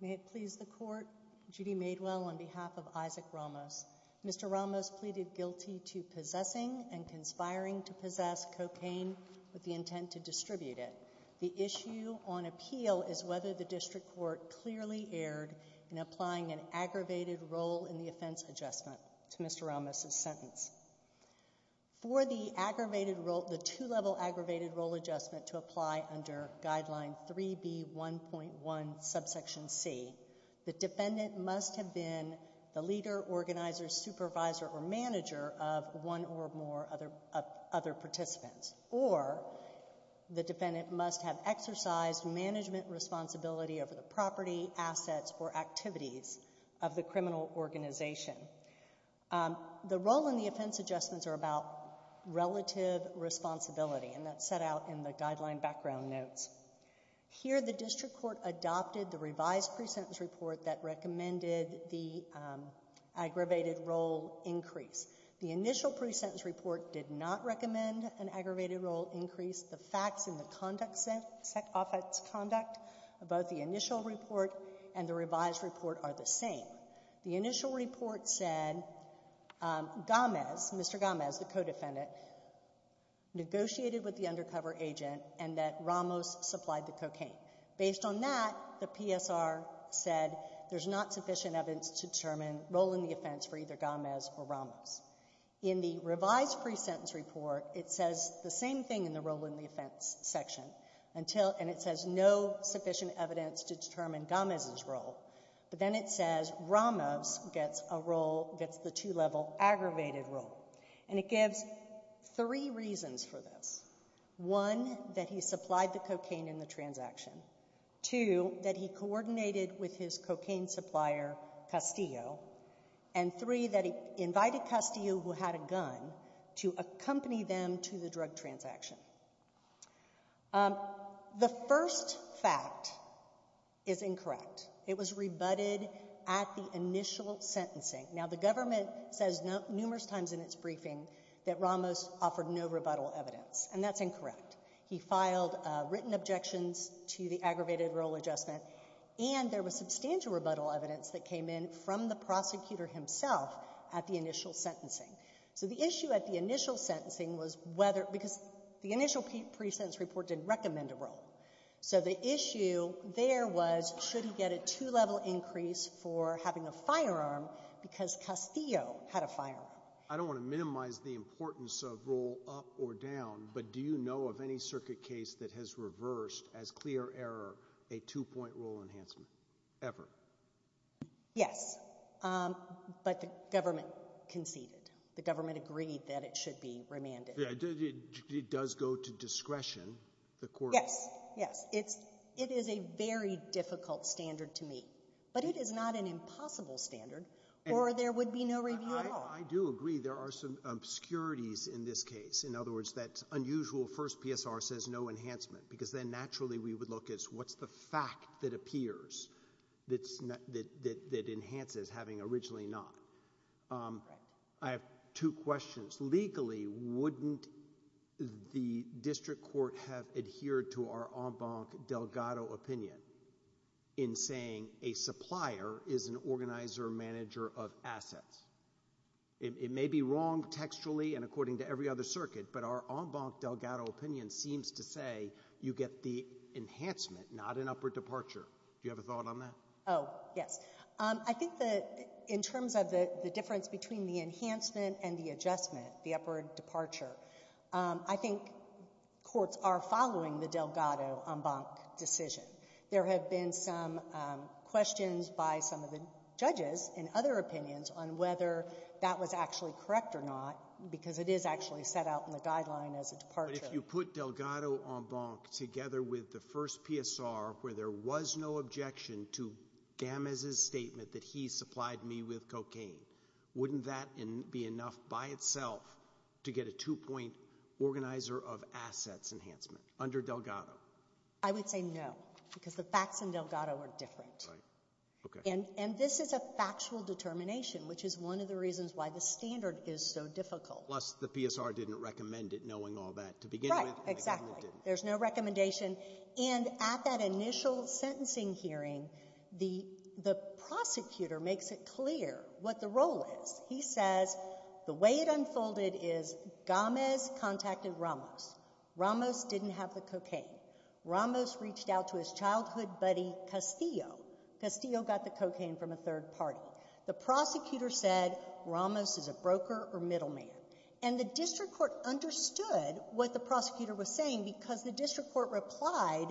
May it please the court, Judy Madewell on behalf of Isaac Ramos, Mr. Ramos pleaded guilty to possessing and conspiring to possess cocaine with the intent to distribute it. The issue on appeal is whether the district court clearly erred in applying an aggravated role in the offense adjustment to Mr. Ramos's sentence. For the aggravated role, the two-level aggravated role adjustment to apply under guideline 3B1.1 subsection C, the defendant must have been the leader, organizer, supervisor, or manager of one or more other participants or the defendant must have exercised management responsibility over the property, assets, or activities of the criminal organization. The role in the offense adjustments are about relative responsibility and that's set out in the guideline background notes. Here the district court adopted the revised pre-sentence report that recommended the aggravated role increase. The initial pre-sentence report did not recommend an aggravated role increase. The facts in the conduct set off its conduct, both the initial report and the revised report are the same. The initial report said Gámez, Mr. Gámez, the co-defendant, negotiated with the undercover agent and that Ramos supplied the cocaine. Based on that, the PSR said there's not sufficient evidence to determine role in the offense for either Gámez or Ramos. In the revised pre-sentence report, it says the same thing in the role in the offense section, and it says no sufficient evidence to determine Gámez's role, but then it says Ramos gets a role, gets the two-level aggravated role, and it gives three reasons for this. One, that he supplied the cocaine in the transaction. Two, that he coordinated with his cocaine supplier, Castillo, and three, that he invited Castillo, who had a gun, to accompany them to the drug transaction. The first fact is incorrect. It was rebutted at the initial sentencing. Now, the government says numerous times in its briefing that Ramos offered no rebuttal evidence, and that's incorrect. He filed written objections to the aggravated role adjustment, and there was substantial rebuttal evidence that came in from the prosecutor himself at the initial sentencing. So the issue at the initial sentencing was whether, because the initial pre-sentence report didn't recommend a role. So the issue there was, should he get a two-level increase for having a firearm, because Castillo had a firearm. I don't want to minimize the importance of role up or down, but do you know of any circuit case that has reversed, as clear error, a two-point role enhancement, ever? Yes, but the government conceded. The government agreed that it should be remanded. It does go to discretion, the court. Yes, yes. It is a very difficult standard to meet, but it is not an impossible standard, or there would be no review at all. I do agree. There are some obscurities in this case. In other words, that unusual first PSR says no enhancement, because then naturally we would look at what's the fact that appears that enhances having originally not. I have two questions. Legally, wouldn't the district court have adhered to our en banc Delgado opinion in saying a supplier is an organizer or manager of assets? It may be wrong textually and according to every other circuit, but our en banc Delgado opinion seems to say you get the enhancement, not an upward departure. Do you have a thought on that? Oh, yes. I think that in terms of the difference between the enhancement and the adjustment, the upward departure, I think courts are following the Delgado en banc decision. There have been some questions by some of the judges and other opinions on whether that was actually correct or not, because it is actually set out in the guideline as a departure. But if you put Delgado en banc together with the first PSR, where there was no objection to Gamez's statement that he supplied me with cocaine, wouldn't that be enough by itself to get a two-point organizer of assets enhancement under Delgado? I would say no, because the facts in Delgado are different. And this is a factual determination, which is one of the reasons why the standard is so difficult. Plus, the PSR didn't recommend it, knowing all that to begin with. Right. Exactly. There's no recommendation. And at that initial sentencing hearing, the prosecutor makes it clear what the role is. He says, the way it unfolded is, Gamez contacted Ramos. Ramos didn't have the cocaine. Ramos reached out to his childhood buddy, Castillo. Castillo got the cocaine from a third party. The prosecutor said, Ramos is a broker or middleman. And the district court understood what the prosecutor was saying, because the district court replied,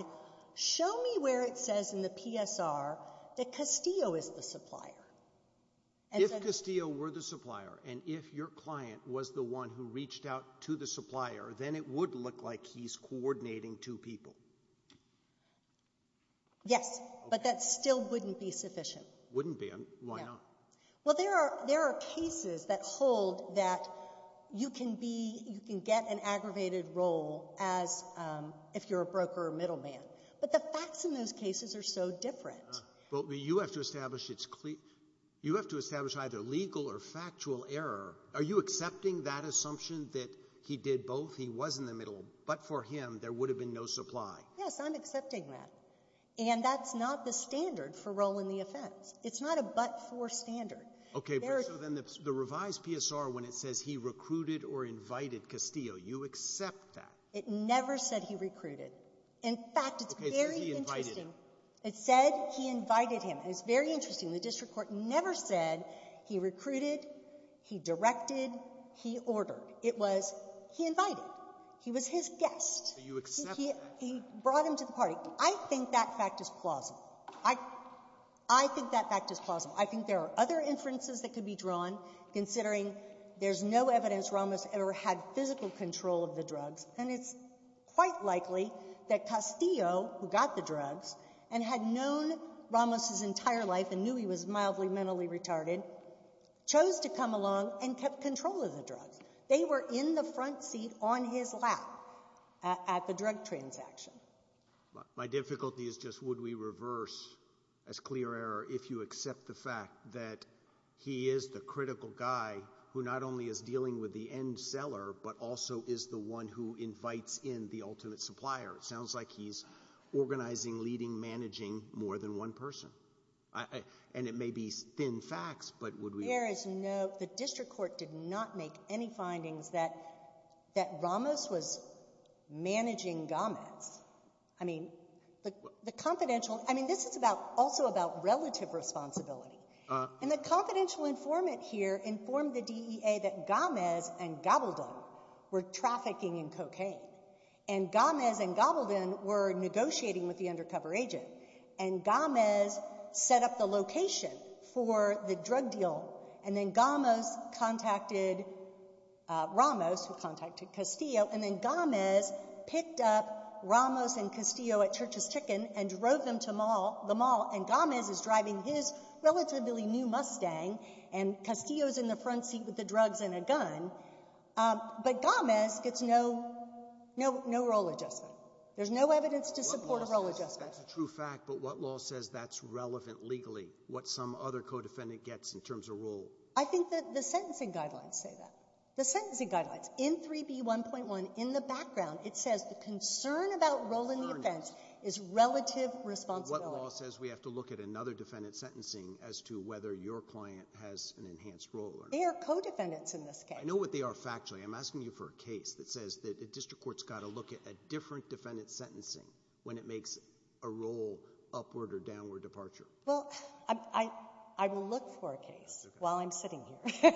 show me where it says in the PSR that Castillo is the supplier. If Castillo were the supplier, and if your client was the one who reached out to the supplier, then it would look like he's coordinating two people. Yes, but that still wouldn't be sufficient. Wouldn't be. Why not? Well, there are cases that hold that you can be, you can get an aggravated role as, if you're a broker or middleman. But the facts in those cases are so different. But you have to establish it's clear, you have to establish either legal or factual error. Are you accepting that assumption that he did both, he was in the middle, but for him there would have been no supply? Yes, I'm accepting that. And that's not the standard for role in the offense. It's not a but-for standard. Okay, so then the revised PSR, when it says he recruited or invited Castillo, you accept that? It never said he recruited. Okay, so he invited him. In fact, it's very interesting. It said he invited him, and it's very interesting. The district court never said he recruited, he directed, he ordered. It was he invited. He was his guest. So you accept that? He brought him to the party. I think that fact is plausible. I think that fact is plausible. I think there are other inferences that could be drawn, considering there's no evidence Ramos ever had physical control of the drugs. And it's quite likely that Castillo, who got the drugs and had known Ramos his entire life and knew he was mildly mentally retarded, chose to come along and kept control of the drugs. They were in the front seat on his lap at the drug transaction. My difficulty is just, would we reverse as clear error if you accept the fact that he is the critical guy who not only is dealing with the end seller, but also is the one who invites in the ultimate supplier? It sounds like he's organizing, leading, managing more than one person. And it may be thin facts, but would we— There is no—the district court did not make any findings that Ramos was managing Gomets. I mean, the confidential—I mean, this is also about relative responsibility. And the confidential informant here informed the DEA that Gomes and Gobaldon were trafficking in cocaine. And Gomes and Gobaldon were negotiating with the undercover agent. And Gomes set up the location for the drug deal. And then Gomes contacted Ramos, who contacted Castillo. And then Gomes picked up Ramos and Castillo at Church's Chicken and drove them to the mall. And Gomes is driving his relatively new Mustang, and Castillo's in the front seat with the drugs and a gun. But Gomes gets no role adjustment. There's no evidence to support a role adjustment. That's a true fact. But what law says that's relevant legally, what some other co-defendant gets in terms of role? I think that the sentencing guidelines say that. The sentencing guidelines. In 3B1.1, in the background, it says the concern about role in the offense is relative responsibility. What law says we have to look at another defendant's sentencing as to whether your client has an enhanced role or not? They are co-defendants in this case. I know what they are factually. I'm asking you for a case that says that the district court's got to look at a different defendant's sentencing when it makes a role upward or downward departure. Well, I will look for a case while I'm sitting here,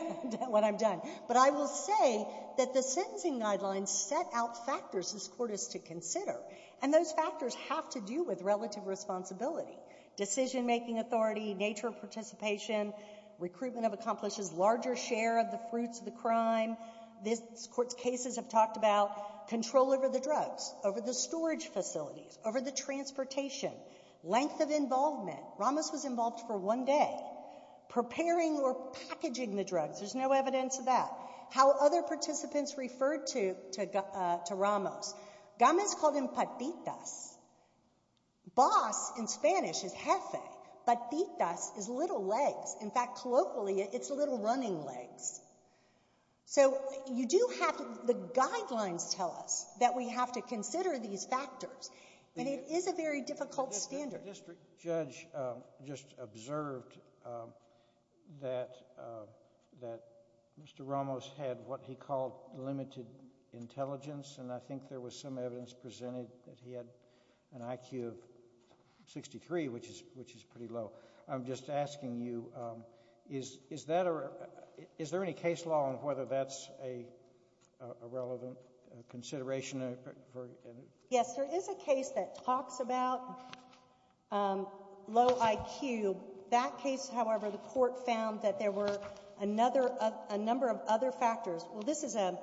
when I'm done. But I will say that the sentencing guidelines set out factors this court is to consider. And those factors have to do with relative responsibility. Decision-making authority, nature of participation, recruitment of accomplices, larger share of the fruits of the crime. This court's cases have talked about control over the drugs, over the storage facilities, over the transportation, length of involvement. Ramos was involved for one day. Preparing or packaging the drugs, there's no evidence of that. How other participants referred to Ramos. Gámez called him patitas. Boss, in Spanish, is jefe. Patitas is little legs. In fact, colloquially, it's little running legs. So you do have to, the guidelines tell us that we have to consider these factors. And it is a very difficult standard. The district judge just observed that Mr. Ramos had what he called limited intelligence. And I think there was some evidence presented that he had an IQ of 63, which is pretty low. I'm just asking you, is there any case law on whether that's a relevant consideration? Yes, there is a case that talks about low IQ. That case, however, the court found that there were a number of other factors. Well, this is a,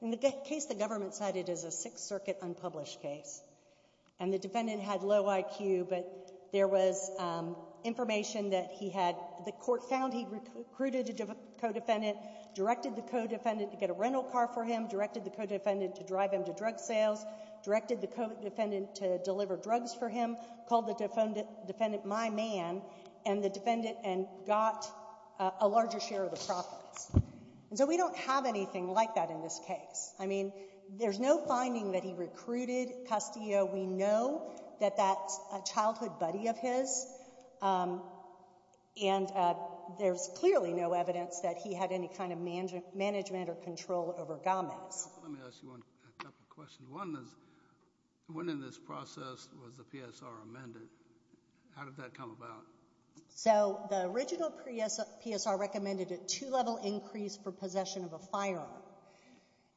in the case the government cited is a Sixth Circuit unpublished case. And the defendant had low IQ, but there was information that he had, the court found he recruited a co-defendant, directed the co-defendant to get a rental car for him, directed the co-defendant to drive him to drug sales, directed the co-defendant to deliver drugs for him, called the defendant, my man, and the defendant got a larger share of the profits. So we don't have anything like that in this case. I mean, there's no finding that he recruited Castillo. We know that that's a childhood buddy of his, and there's clearly no evidence that he had any kind of management or control over Gomez. Let me ask you a couple of questions. One is, when in this process was the PSR amended, how did that come about? So the original PSR recommended a two-level increase for possession of a firearm.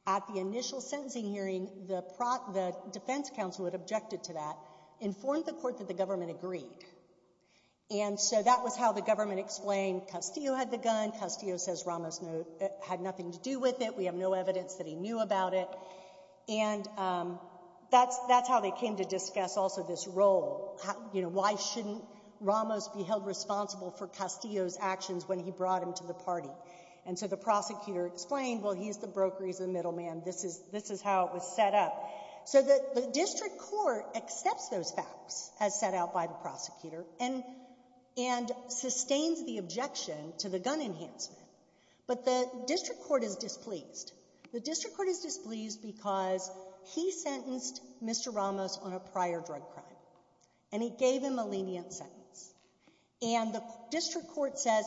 At the initial sentencing hearing, the defense counsel had objected to that, informed the court that the government agreed. And so that was how the government explained Castillo had the gun, Castillo says Ramos had nothing to do with it, we have no evidence that he knew about it. And that's how they came to discuss also this role, you know, why shouldn't Ramos be held responsible for Castillo's actions when he brought him to the party? And so the prosecutor explained, well, he's the broker, he's the middleman, this is how it was set up. So the district court accepts those facts, as set out by the prosecutor, and sustains the objection to the gun enhancement. But the district court is displeased. The district court is displeased because he sentenced Mr. Ramos on a prior drug crime. And he gave him a lenient sentence. And the district court says,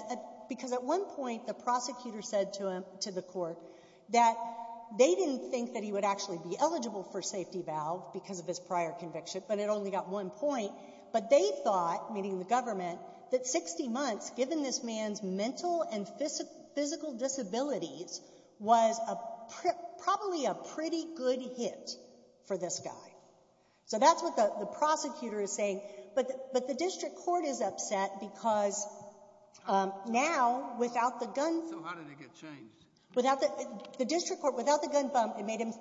because at one point the prosecutor said to him, to the court, that they didn't think that he would actually be eligible for safety valve because of his prior conviction, but it only got one point. But they thought, meaning the government, that 60 months, given this man's mental and physical disabilities, was probably a pretty good hit for this guy. So that's what the prosecutor is saying. But the district court is upset because now, without the gun— So how did it get changed? Without the—the district court, without the gun bump, it made him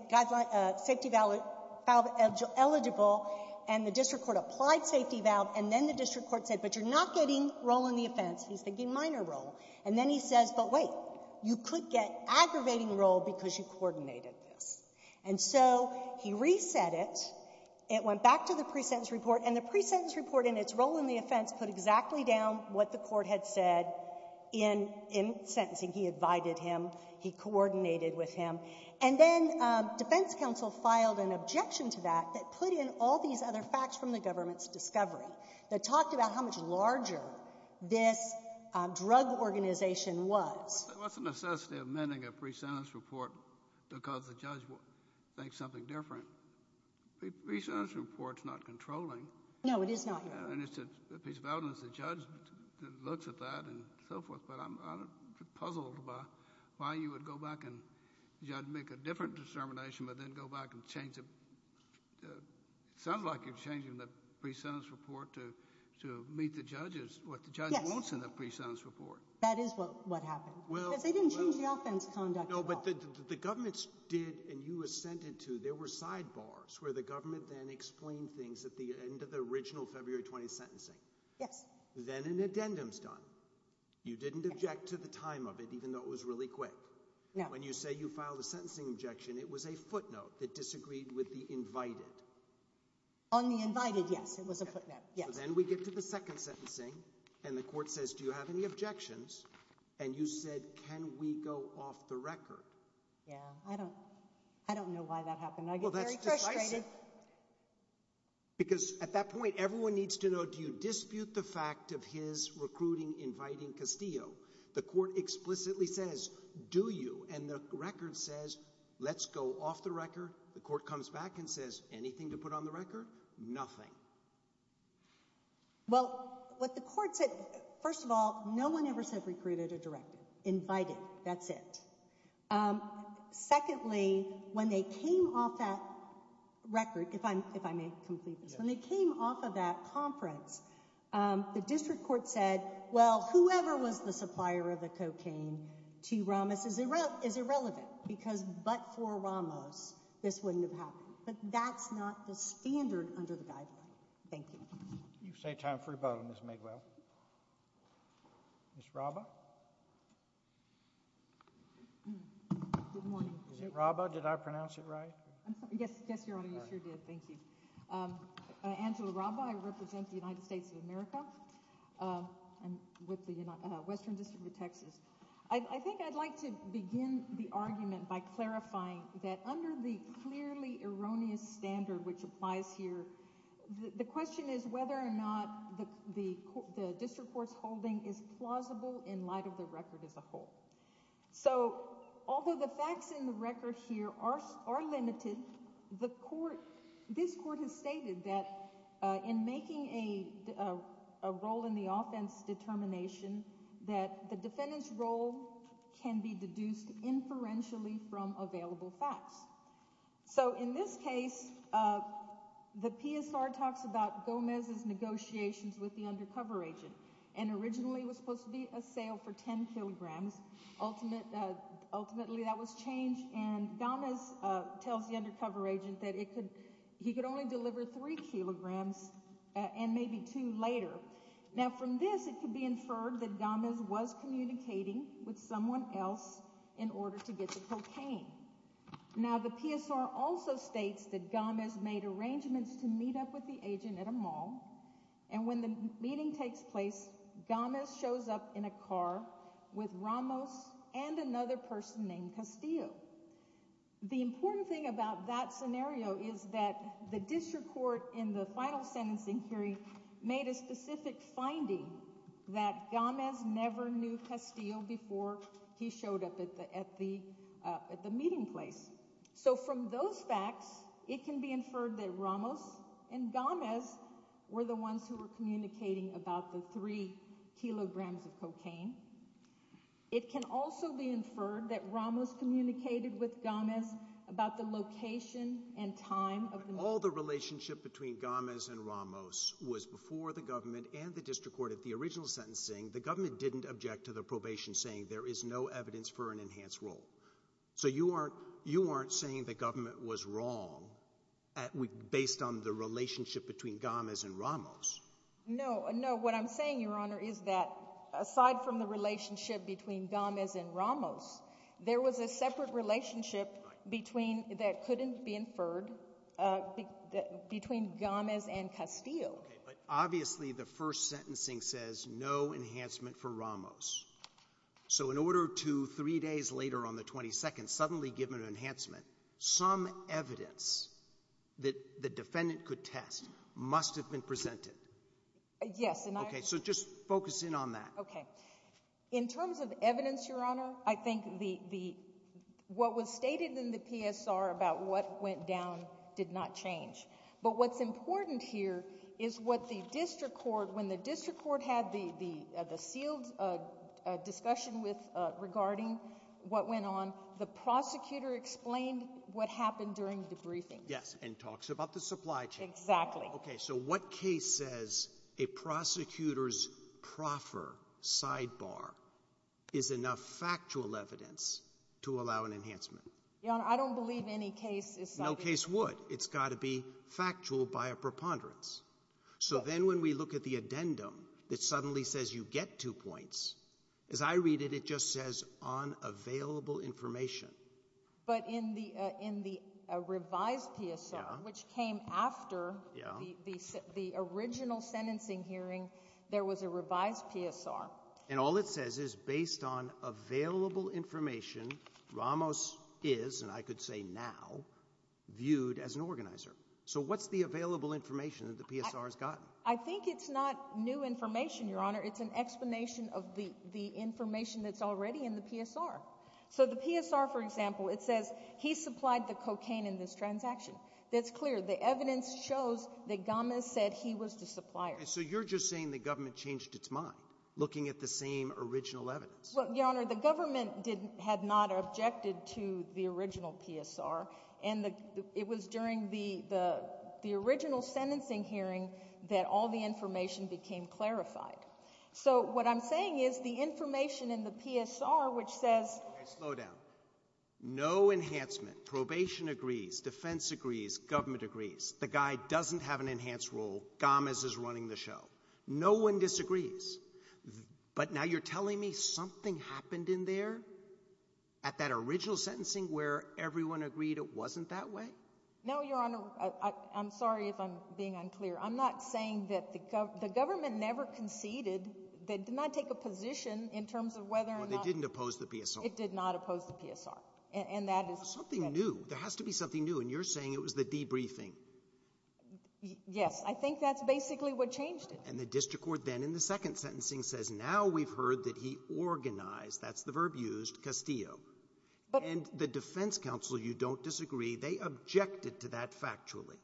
safety valve eligible, and the district court applied safety valve, and then the district court said, but you're not getting role in the offense. He's thinking minor role. And then he says, but wait, you could get aggravating role because you coordinated this. And so he reset it. It went back to the pre-sentence report. And the pre-sentence report, in its role in the offense, put exactly down what the court had said in sentencing. He advided him. He coordinated with him. And then defense counsel filed an objection to that that put in all these other facts from the government's discovery that talked about how much larger this drug organization was. What's the necessity of amending a pre-sentence report to cause the judge to think something different? Pre-sentence report's not controlling. No, it is not, Your Honor. And it's a piece of evidence. The judge looks at that and so forth. But I'm puzzled by why you would go back and judge, make a different determination, but then go back and change it. Sounds like you're changing the pre-sentence report to meet the judge's, what the judge wants in the pre-sentence report. That is what happened. Because they didn't change the offense conduct at all. No, but the government did, and you assented to, there were sidebars where the government then explained things at the end of the original February 20th sentencing. Yes. Then an addendum's done. You didn't object to the time of it, even though it was really quick. No. When you say you filed a sentencing objection, it was a footnote that disagreed with the invited. On the invited, yes, it was a footnote. Yes. Then we get to the second sentencing, and the court says, do you have any objections? And you said, can we go off the record? Yeah, I don't, I don't know why that happened. I get very frustrated. Because at that point, everyone needs to know, do you dispute the fact of his recruiting inviting Castillo? The court explicitly says, do you? And the record says, let's go off the record. The court comes back and says, anything to put on the record? Nothing. Well, what the court said, first of all, no one ever said recruited or directed. Invited, that's it. Secondly, when they came off that record, if I may complete this, when they came off of that conference, the district court said, well, whoever was the supplier of the cocaine to Ramos is irrelevant, because but for Ramos, this wouldn't have happened. But that's not the standard under the guideline. Thank you. You've saved time for rebuttal, Ms. McGill. Ms. Raba? Good morning. Is it Raba? Did I pronounce it right? Yes, yes, Your Honor, you sure did. Thank you. I'm Angela Raba. I represent the United States of America. I'm with the Western District of Texas. I think I'd like to begin the argument by clarifying that under the clearly erroneous standard which applies here, the question is whether or not the district court's holding is plausible in light of the record as a whole. So although the facts in the record here are limited, this court has stated that in making a role in the offense determination that the defendant's role can be deduced inferentially from available facts. So in this case, the PSR talks about Gomez's negotiations with the undercover agent, and ultimately that was changed, and Gomez tells the undercover agent that he could only deliver three kilograms and maybe two later. Now, from this, it could be inferred that Gomez was communicating with someone else in order to get the cocaine. Now, the PSR also states that Gomez made arrangements to meet up with the agent at a mall, and when the meeting takes place, Gomez shows up in a car with Ramos and another person named Castillo. The important thing about that scenario is that the district court in the final sentencing hearing made a specific finding that Gomez never knew Castillo before he showed up at the meeting place. So from those facts, it can be inferred that Ramos and Gomez were the ones who were communicating about the three kilograms of cocaine. It can also be inferred that Ramos communicated with Gomez about the location and time of the meeting. All the relationship between Gomez and Ramos was before the government and the district court at the original sentencing. The government didn't object to the probation saying there is no evidence for an enhanced role. So you aren't saying the government was wrong based on the relationship between Gomez and Ramos. No, no. What I'm saying, Your Honor, is that aside from the relationship between Gomez and Ramos, there was a separate relationship that couldn't be inferred between Gomez and Castillo. Okay, but obviously the first sentencing says no enhancement for Ramos. So in order to three days later on the 22nd suddenly give an enhancement, some evidence that the defendant could test must have been presented. Yes. Okay, so just focus in on that. Okay. In terms of evidence, Your Honor, I think what was stated in the PSR about what went down did not change. But what's important here is what the district court, when the district court had the sealed discussion with regarding what went on, the prosecutor explained what happened during the briefing. Yes, and talks about the supply chain. Exactly. Okay, so what case says a prosecutor's proffer sidebar is enough factual evidence to allow an enhancement? Your Honor, I don't believe any case is sidebar. No case would. It's got to be factual by a preponderance. So then when we look at the addendum that suddenly says you get two points, as I read it, it just says on available information. But in the revised PSR, which came after the original sentencing hearing, there was a revised PSR. And all it says is based on available information, Ramos is, and I could say now, viewed as an organizer. So what's the available information that the PSR has gotten? I think it's not new information, Your Honor. It's an explanation of the information that's already in the PSR. So the PSR, for example, it says he supplied the cocaine in this transaction. That's clear. The evidence shows that Gamas said he was the supplier. So you're just saying the government changed its mind looking at the same original evidence? Well, Your Honor, the government had not objected to the original PSR. And it was during the original sentencing hearing that all the information became clarified. So what I'm saying is the information in the PSR, which says. Slow down. No enhancement. Probation agrees. Defense agrees. Government agrees. The guy doesn't have an enhanced role. Gamas is running the show. No one disagrees. But now you're telling me something happened in there at that original sentencing where everyone agreed it wasn't that way? No, Your Honor. I'm sorry if I'm being unclear. I'm not saying that the government never conceded. They did not take a position in terms of whether or not. They didn't oppose the PSR. It did not oppose the PSR. And that is. Something new. There has to be something new. And you're saying it was the debriefing. Yes, I think that's basically what changed it. And the district court then in the second sentencing says now we've heard that he organized. That's the verb used. Castillo. And the defense counsel, you don't disagree. They objected to that factually.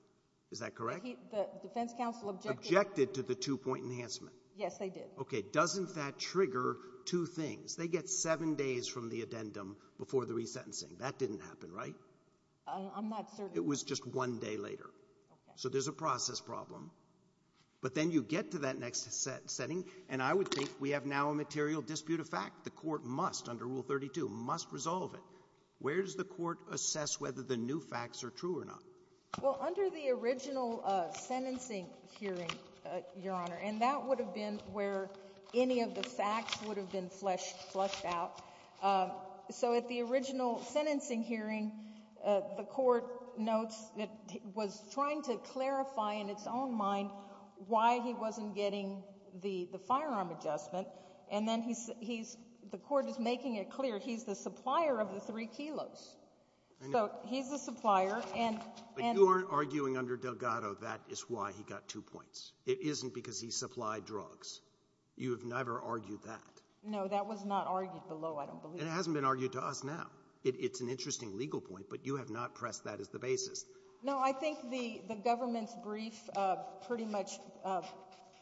Is that correct? The defense counsel objected. Objected to the two point enhancement. Yes, they did. OK. Doesn't that trigger two things? They get seven days from the addendum before the resentencing. That didn't happen, right? I'm not certain. It was just one day later. So there's a process problem. But then you get to that next setting. And I would think we have now a material dispute of fact. The court must, under Rule 32, must resolve it. Where does the court assess whether the new facts are true or not? Well, under the original sentencing hearing, Your Honor. And that would have been where any of the facts would have been flushed out. So at the original sentencing hearing, the court notes that it was trying to clarify in its own mind why he wasn't getting the firearm adjustment. And then the court is making it clear he's the supplier of the three kilos. So he's the supplier. But you aren't arguing under Delgado that is why he got two points. It isn't because he supplied drugs. You have never argued that. No, that was not argued below, I don't believe. And it hasn't been argued to us now. It's an interesting legal point. But you have not pressed that as the basis. No, I think the government's brief pretty much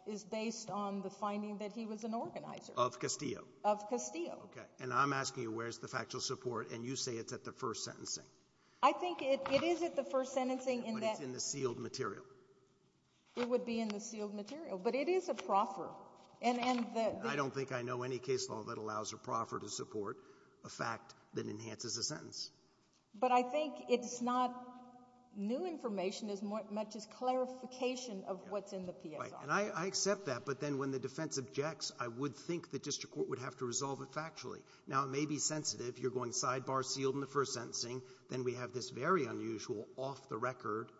is based on the finding that he was an organizer. Of Castillo. Of Castillo. Okay. And I'm asking you, where's the factual support? And you say it's at the first sentencing. I think it is at the first sentencing. But it's in the sealed material. It would be in the sealed material. But it is a proffer. I don't think I know any case law that allows a proffer to support a fact that enhances a sentence. But I think it's not new information as much as clarification of what's in the PSR. And I accept that. But then when the defense objects, I would think the district court would have to resolve it factually. Now, it may be sensitive. You're going sidebar sealed in the first sentencing. Then we have this very unusual off the record,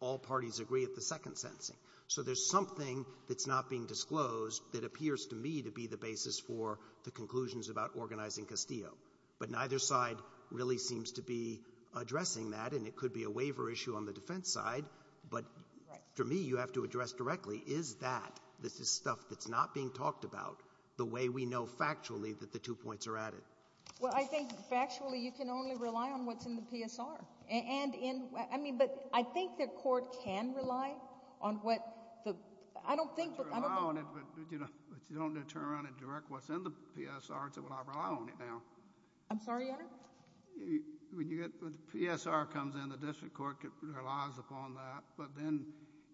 all parties agree at the second sentencing. So there's something that's not being disclosed that appears to me to be the basis for the conclusions about organizing Castillo. But neither side really seems to be addressing that. And it could be a waiver issue on the defense side. But for me, you have to address directly, is that this is stuff that's not being talked about the way we know factually that the two points are added? Well, I think factually you can only rely on what's in the PSR. But I think the court can rely on what the, I don't think. You can rely on it, but you don't turn around and direct what's in the PSR and say, well, I rely on it now. I'm sorry, Your Honor? When the PSR comes in, the district court relies upon that. But then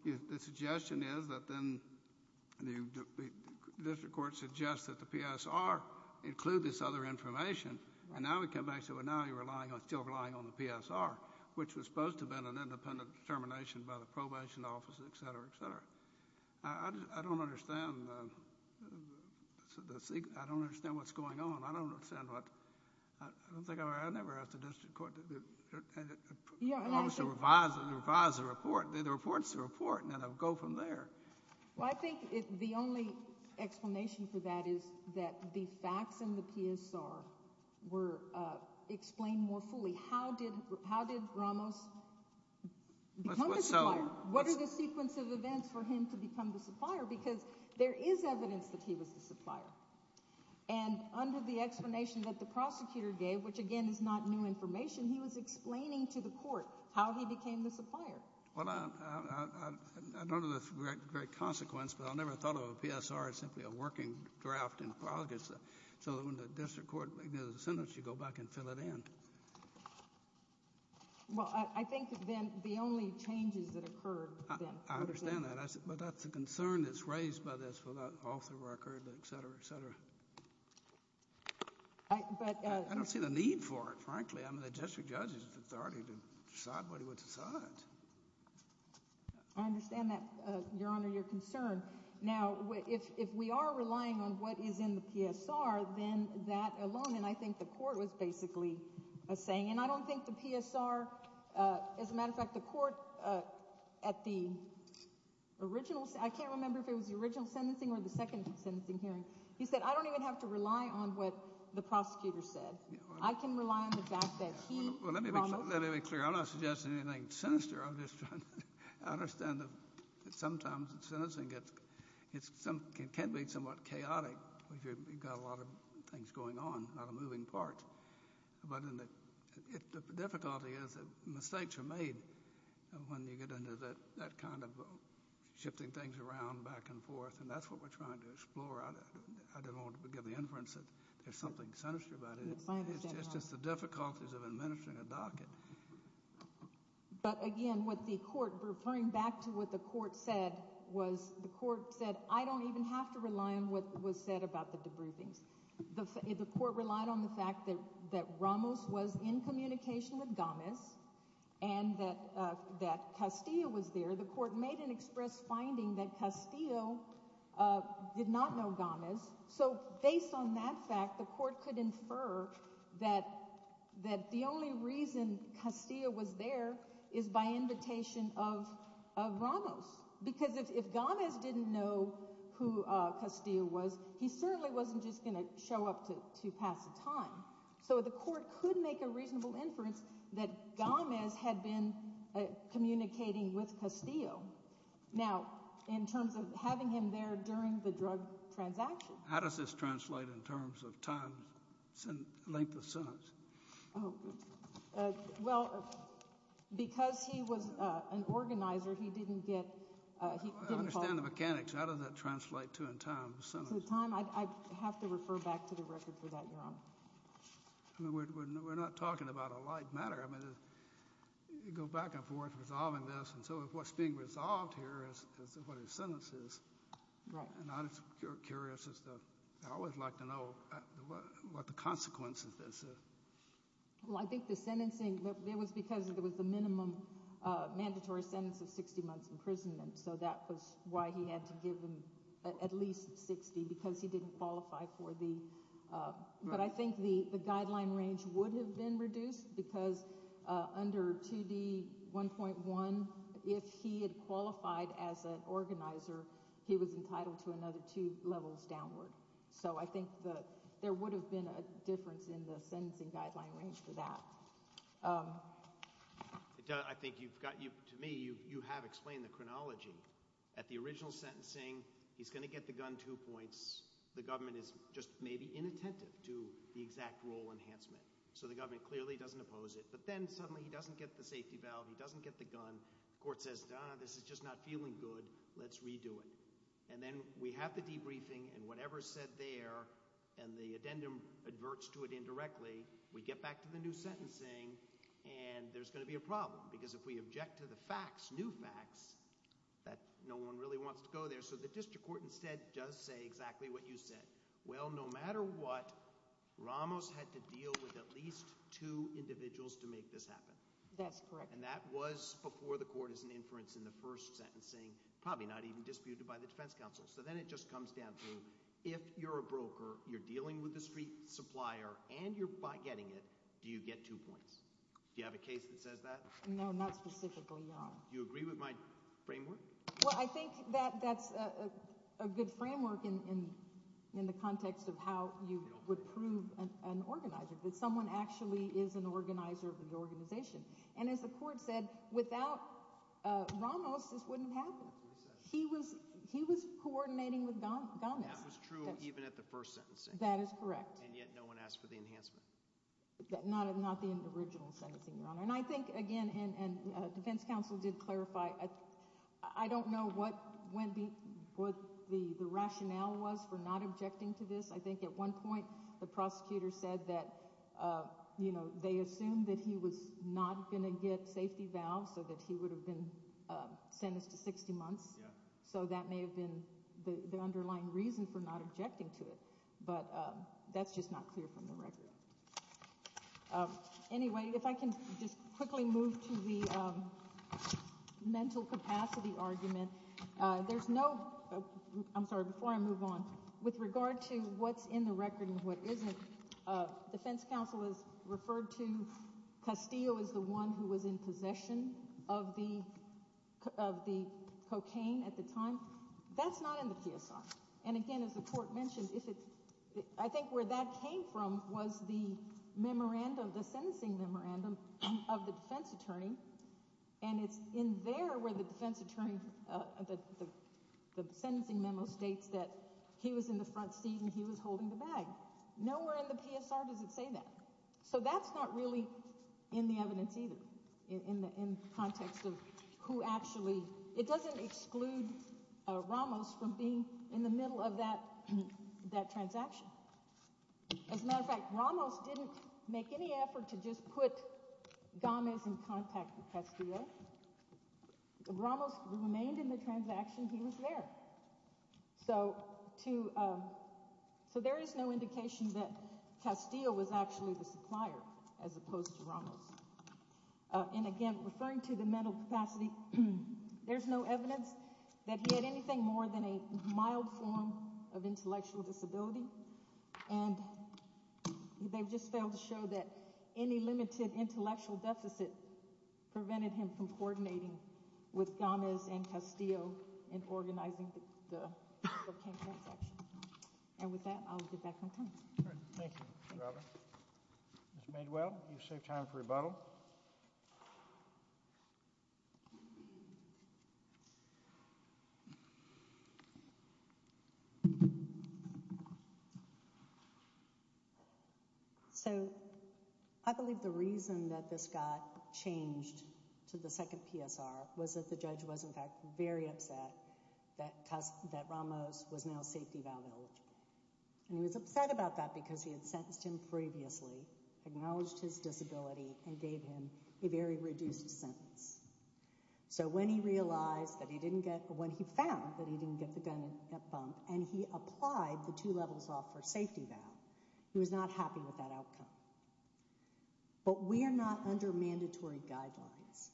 the suggestion is that then the district court suggests that the PSR include this other information. And now we come back to, well, now you're still relying on the PSR, which was supposed to have been an independent determination by the probation office, et cetera, et cetera. I don't understand. I don't understand what's going on. I don't understand what, I don't think, I never asked the district court to revise the report. The report's the report, and then I'll go from there. Well, I think the only explanation for that is that the facts in the PSR were explained more fully. How did Ramos become the supplier? What is the sequence of events for him to become the supplier? Because there is evidence that he was the supplier. And under the explanation that the prosecutor gave, which, again, is not new information, he was explaining to the court how he became the supplier. Well, I don't know the great consequence, but I never thought of a PSR as simply a working draft in August. So when the district court makes a sentence, you go back and fill it in. Well, I think then the only changes that occurred then. I understand that. But that's the concern that's raised by this author record, et cetera, et cetera. I don't see the need for it, frankly. I mean, the district judge has the authority to decide what he wants to decide. I understand that, Your Honor, your concern. Now, if we are relying on what is in the PSR, then that alone, and I think the court was basically saying, and I don't think the PSR, as a matter of fact, the court at the original, I can't remember if it was the original sentencing or the second sentencing hearing. He said, I don't even have to rely on what the prosecutor said. I can rely on the fact that he, Ronald- Let me be clear. I'm not suggesting anything sinister. I'm just trying to understand that sometimes the sentencing gets, it can be somewhat chaotic if you've got a lot of things going on, a lot of moving parts. But the difficulty is that mistakes are made when you get into that kind of shifting things around back and forth, and that's what we're trying to explore. I don't want to give the inference that there's something sinister about it. It's just the difficulties of administering a docket. But again, what the court, referring back to what the court said, was the court said, I don't even have to rely on what was said about the debriefings. The court relied on the fact that Ramos was in communication with Gámez and that Castillo was there. The court made an express finding that Castillo did not know Gámez. So based on that fact, the court could infer that the only reason Castillo was there is by invitation of Ramos, because if Gámez didn't know who Castillo was, he certainly wasn't just going to show up to pass the time. So the court could make a reasonable inference that Gámez had been communicating with Castillo. Now, in terms of having him there during the drug transaction. How does this translate in terms of time, length of sentence? Well, because he was an organizer, he didn't get, he didn't... I understand the mechanics. How does that translate to in time, the sentence? I'd have to refer back to the record for that, Your Honor. We're not talking about a light matter. I mean, you go back and forth resolving this. And so if what's being resolved here is what his sentence is. Right. And I'm just curious as to, I always like to know what the consequence of this is. Well, I think the sentencing, it was because it was the minimum mandatory sentence of 60 months imprisonment. So that was why he had to give them at least 60 because he didn't qualify for the... But I think the guideline range would have been reduced because under 2D1.1, if he had qualified as an organizer, he was entitled to another two levels downward. So I think that there would have been a difference in the sentencing guideline range for that. I think you've got, to me, you have explained the chronology. At the original sentencing, he's going to get the gun two points. The government is just maybe inattentive to the exact rule enhancement. So the government clearly doesn't oppose it. But then suddenly he doesn't get the safety valve. He doesn't get the gun. Court says, this is just not feeling good. Let's redo it. And then we have the debriefing and whatever's said there and the addendum adverts to it and there's going to be a problem. Because if we object to the facts, new facts, that no one really wants to go there. So the district court instead does say exactly what you said. Well, no matter what, Ramos had to deal with at least two individuals to make this happen. That's correct. And that was before the court is an inference in the first sentencing, probably not even disputed by the defense counsel. So then it just comes down to if you're a broker, you're dealing with the street supplier, and you're getting it, do you get two points? Do you have a case that says that? No, not specifically. Do you agree with my framework? Well, I think that that's a good framework in the context of how you would prove an organizer, that someone actually is an organizer of the organization. And as the court said, without Ramos, this wouldn't happen. He was coordinating with Gomez. That was true even at the first sentencing. That is correct. And yet no one asked for the enhancement. Not the original sentencing, Your Honor. And I think, again, and defense counsel did clarify, I don't know what the rationale was for not objecting to this. I think at one point, the prosecutor said that they assumed that he was not going to get safety vows so that he would have been sentenced to 60 months. So that may have been the underlying reason for not objecting to it. But that's just not clear from the record. Anyway, if I can just quickly move to the mental capacity argument. There's no, I'm sorry, before I move on, with regard to what's in the record and what isn't, defense counsel has referred to Castillo as the one who was in possession of the cocaine at the time. That's not in the PSI. And again, as the court mentioned, I think where that came from was the memorandum, the sentencing memorandum of the defense attorney. And it's in there where the defense attorney, the sentencing memo states that he was in the front seat and he was holding the bag. Nowhere in the PSI does it say that. So that's not really in the evidence either in the context of who actually, it doesn't exclude Ramos from being in the middle of that transaction. As a matter of fact, Ramos didn't make any effort to just put Gomes in contact with Castillo. Ramos remained in the transaction. He was there. So there is no indication that Castillo was actually the supplier as opposed to Ramos. And again, referring to the mental capacity, there's no evidence that he had anything more than a mild form of intellectual disability. And they've just failed to show that any limited intellectual deficit prevented him from coordinating with Gomez and Castillo in organizing the cocaine transaction. And with that, I'll get back on time. All right. Thank you, Mr. Robert. Ms. Maidwell, you've saved time for rebuttal. So I believe the reason that this got changed to the second PSR was that the judge was, in fact, very upset that Ramos was now safety valve eligible. And he was upset about that because he had sentenced him previously, acknowledged his disability, and gave him a very reduced sentence. So when he realized that he didn't get—when he found that he didn't get the gun in that bump and he applied the two levels off for safety valve, he was not happy with that outcome. But we are not under mandatory guidelines.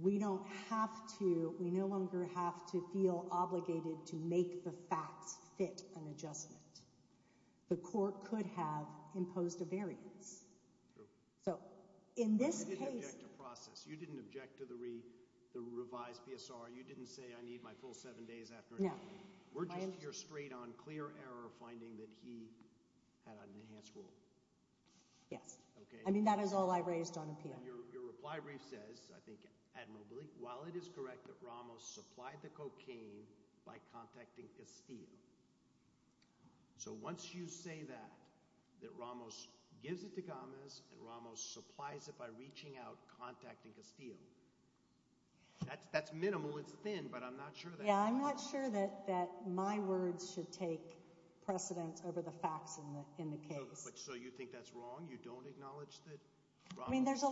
We don't have to—we no longer have to feel obligated to make the facts fit an adjustment. The court could have imposed a variance. So in this case— But you didn't object to process. You didn't object to the revised PSR. You didn't say, I need my full seven days after— No. We're just here straight on clear error finding that he had an enhanced rule. Yes. I mean, that is all I raised on appeal. Your reply brief says, I think admirably, while it is correct that Ramos supplied the cocaine by contacting Castillo. So once you say that, that Ramos gives it to Gomes and Ramos supplies it by reaching out, contacting Castillo, that's minimal. It's thin, but I'm not sure that— Yeah, I'm not sure that my words should take precedence over the facts in the case. So you think that's wrong? You don't acknowledge that Ramos— I mean, there's a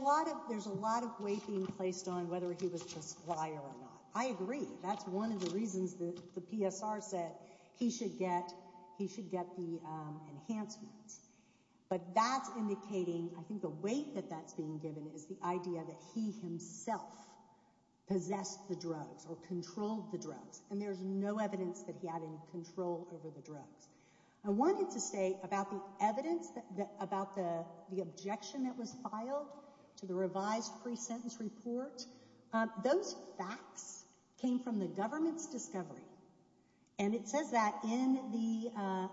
lot of weight being placed on whether he was the supplier or not. I agree. That's one of the reasons that the PSR said he should get the enhancements. But that's indicating, I think the weight that that's being given is the idea that he himself possessed the drugs or controlled the drugs. And there's no evidence that he had any control over the drugs. I wanted to say about the evidence, about the objection that was filed to the revised pre-sentence report, those facts came from the government's discovery. And it says that in the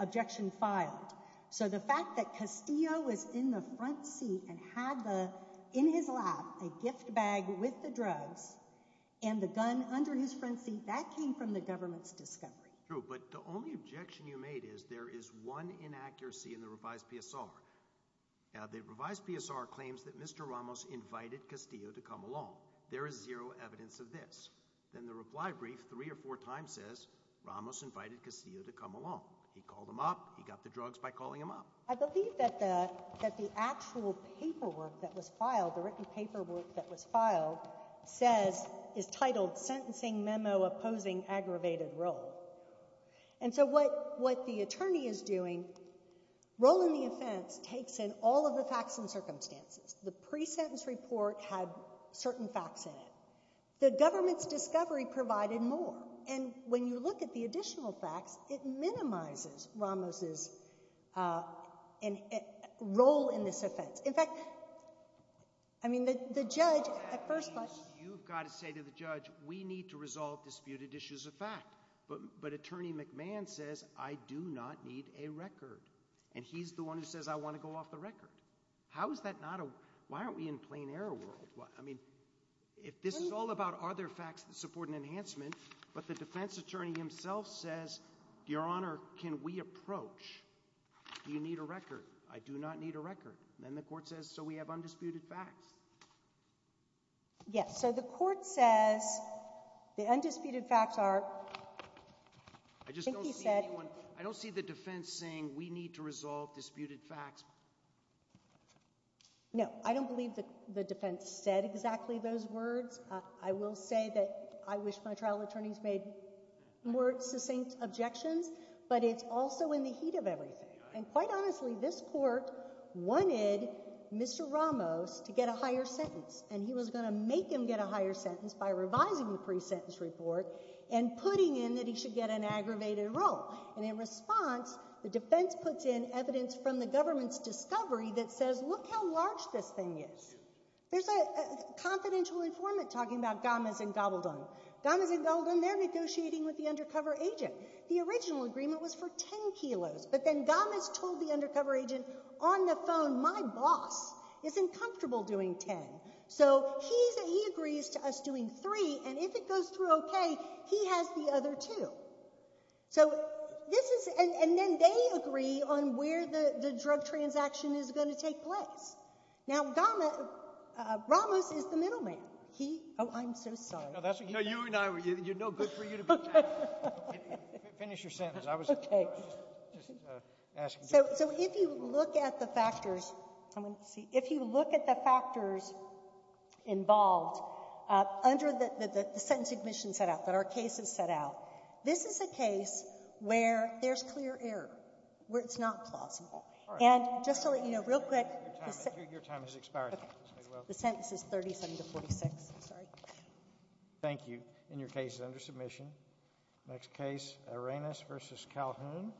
objection filed. So the fact that Castillo was in the front seat and had in his lap a gift bag with the government's discovery. True. But the only objection you made is there is one inaccuracy in the revised PSR. The revised PSR claims that Mr. Ramos invited Castillo to come along. There is zero evidence of this. Then the reply brief three or four times says Ramos invited Castillo to come along. He called him up. He got the drugs by calling him up. I believe that the actual paperwork that was filed, the written paperwork that was filed says, is titled sentencing memo opposing aggravated role. And so what the attorney is doing, role in the offense takes in all of the facts and circumstances. The pre-sentence report had certain facts in it. The government's discovery provided more. And when you look at the additional facts, it minimizes Ramos' role in this offense. In fact, I mean, the judge at first, you've got to say to the judge, we need to resolve disputed issues of fact, but, but attorney McMahon says, I do not need a record. And he's the one who says, I want to go off the record. How is that not a, why aren't we in plain error world? I mean, if this is all about other facts that support an enhancement, but the defense attorney himself says, your honor, can we approach, do you need a record? I do not need a record. Then the court says, so we have undisputed facts. Yes. So the court says the undisputed facts are, I just don't see anyone. I don't see the defense saying we need to resolve disputed facts. No, I don't believe that the defense said exactly those words. I will say that I wish my trial attorneys made more succinct objections, but it's also in the heat of everything. And quite honestly, this court wanted Mr. Ramos to get a higher sentence, and he was going to make him get a higher sentence by revising the pre-sentence report and putting in that he should get an aggravated role. And in response, the defense puts in evidence from the government's discovery that says, look how large this thing is. There's a confidential informant talking about Gammas and Gobbledon. Gammas and Gobbledon, they're negotiating with the undercover agent. The original agreement was for 10 kilos, but then Gammas told the undercover agent on the phone, my boss isn't comfortable doing 10. So he agrees to us doing three, and if it goes through okay, he has the other two. So this is, and then they agree on where the drug transaction is going to take place. Now, Gammas, Ramos is the middleman. He, oh, I'm so sorry. No, you and I, it's no good for you to be that. Finish your sentence. I was just asking. So if you look at the factors, I'm going to see. If you look at the factors involved under the sentence admission set out, that our case is set out, this is a case where there's clear error, where it's not plausible. And just to let you know, real quick, the sentence is 37 to 46. Sorry. Thank you. And your case is under submission. Next case, Arenas v. Calhoun.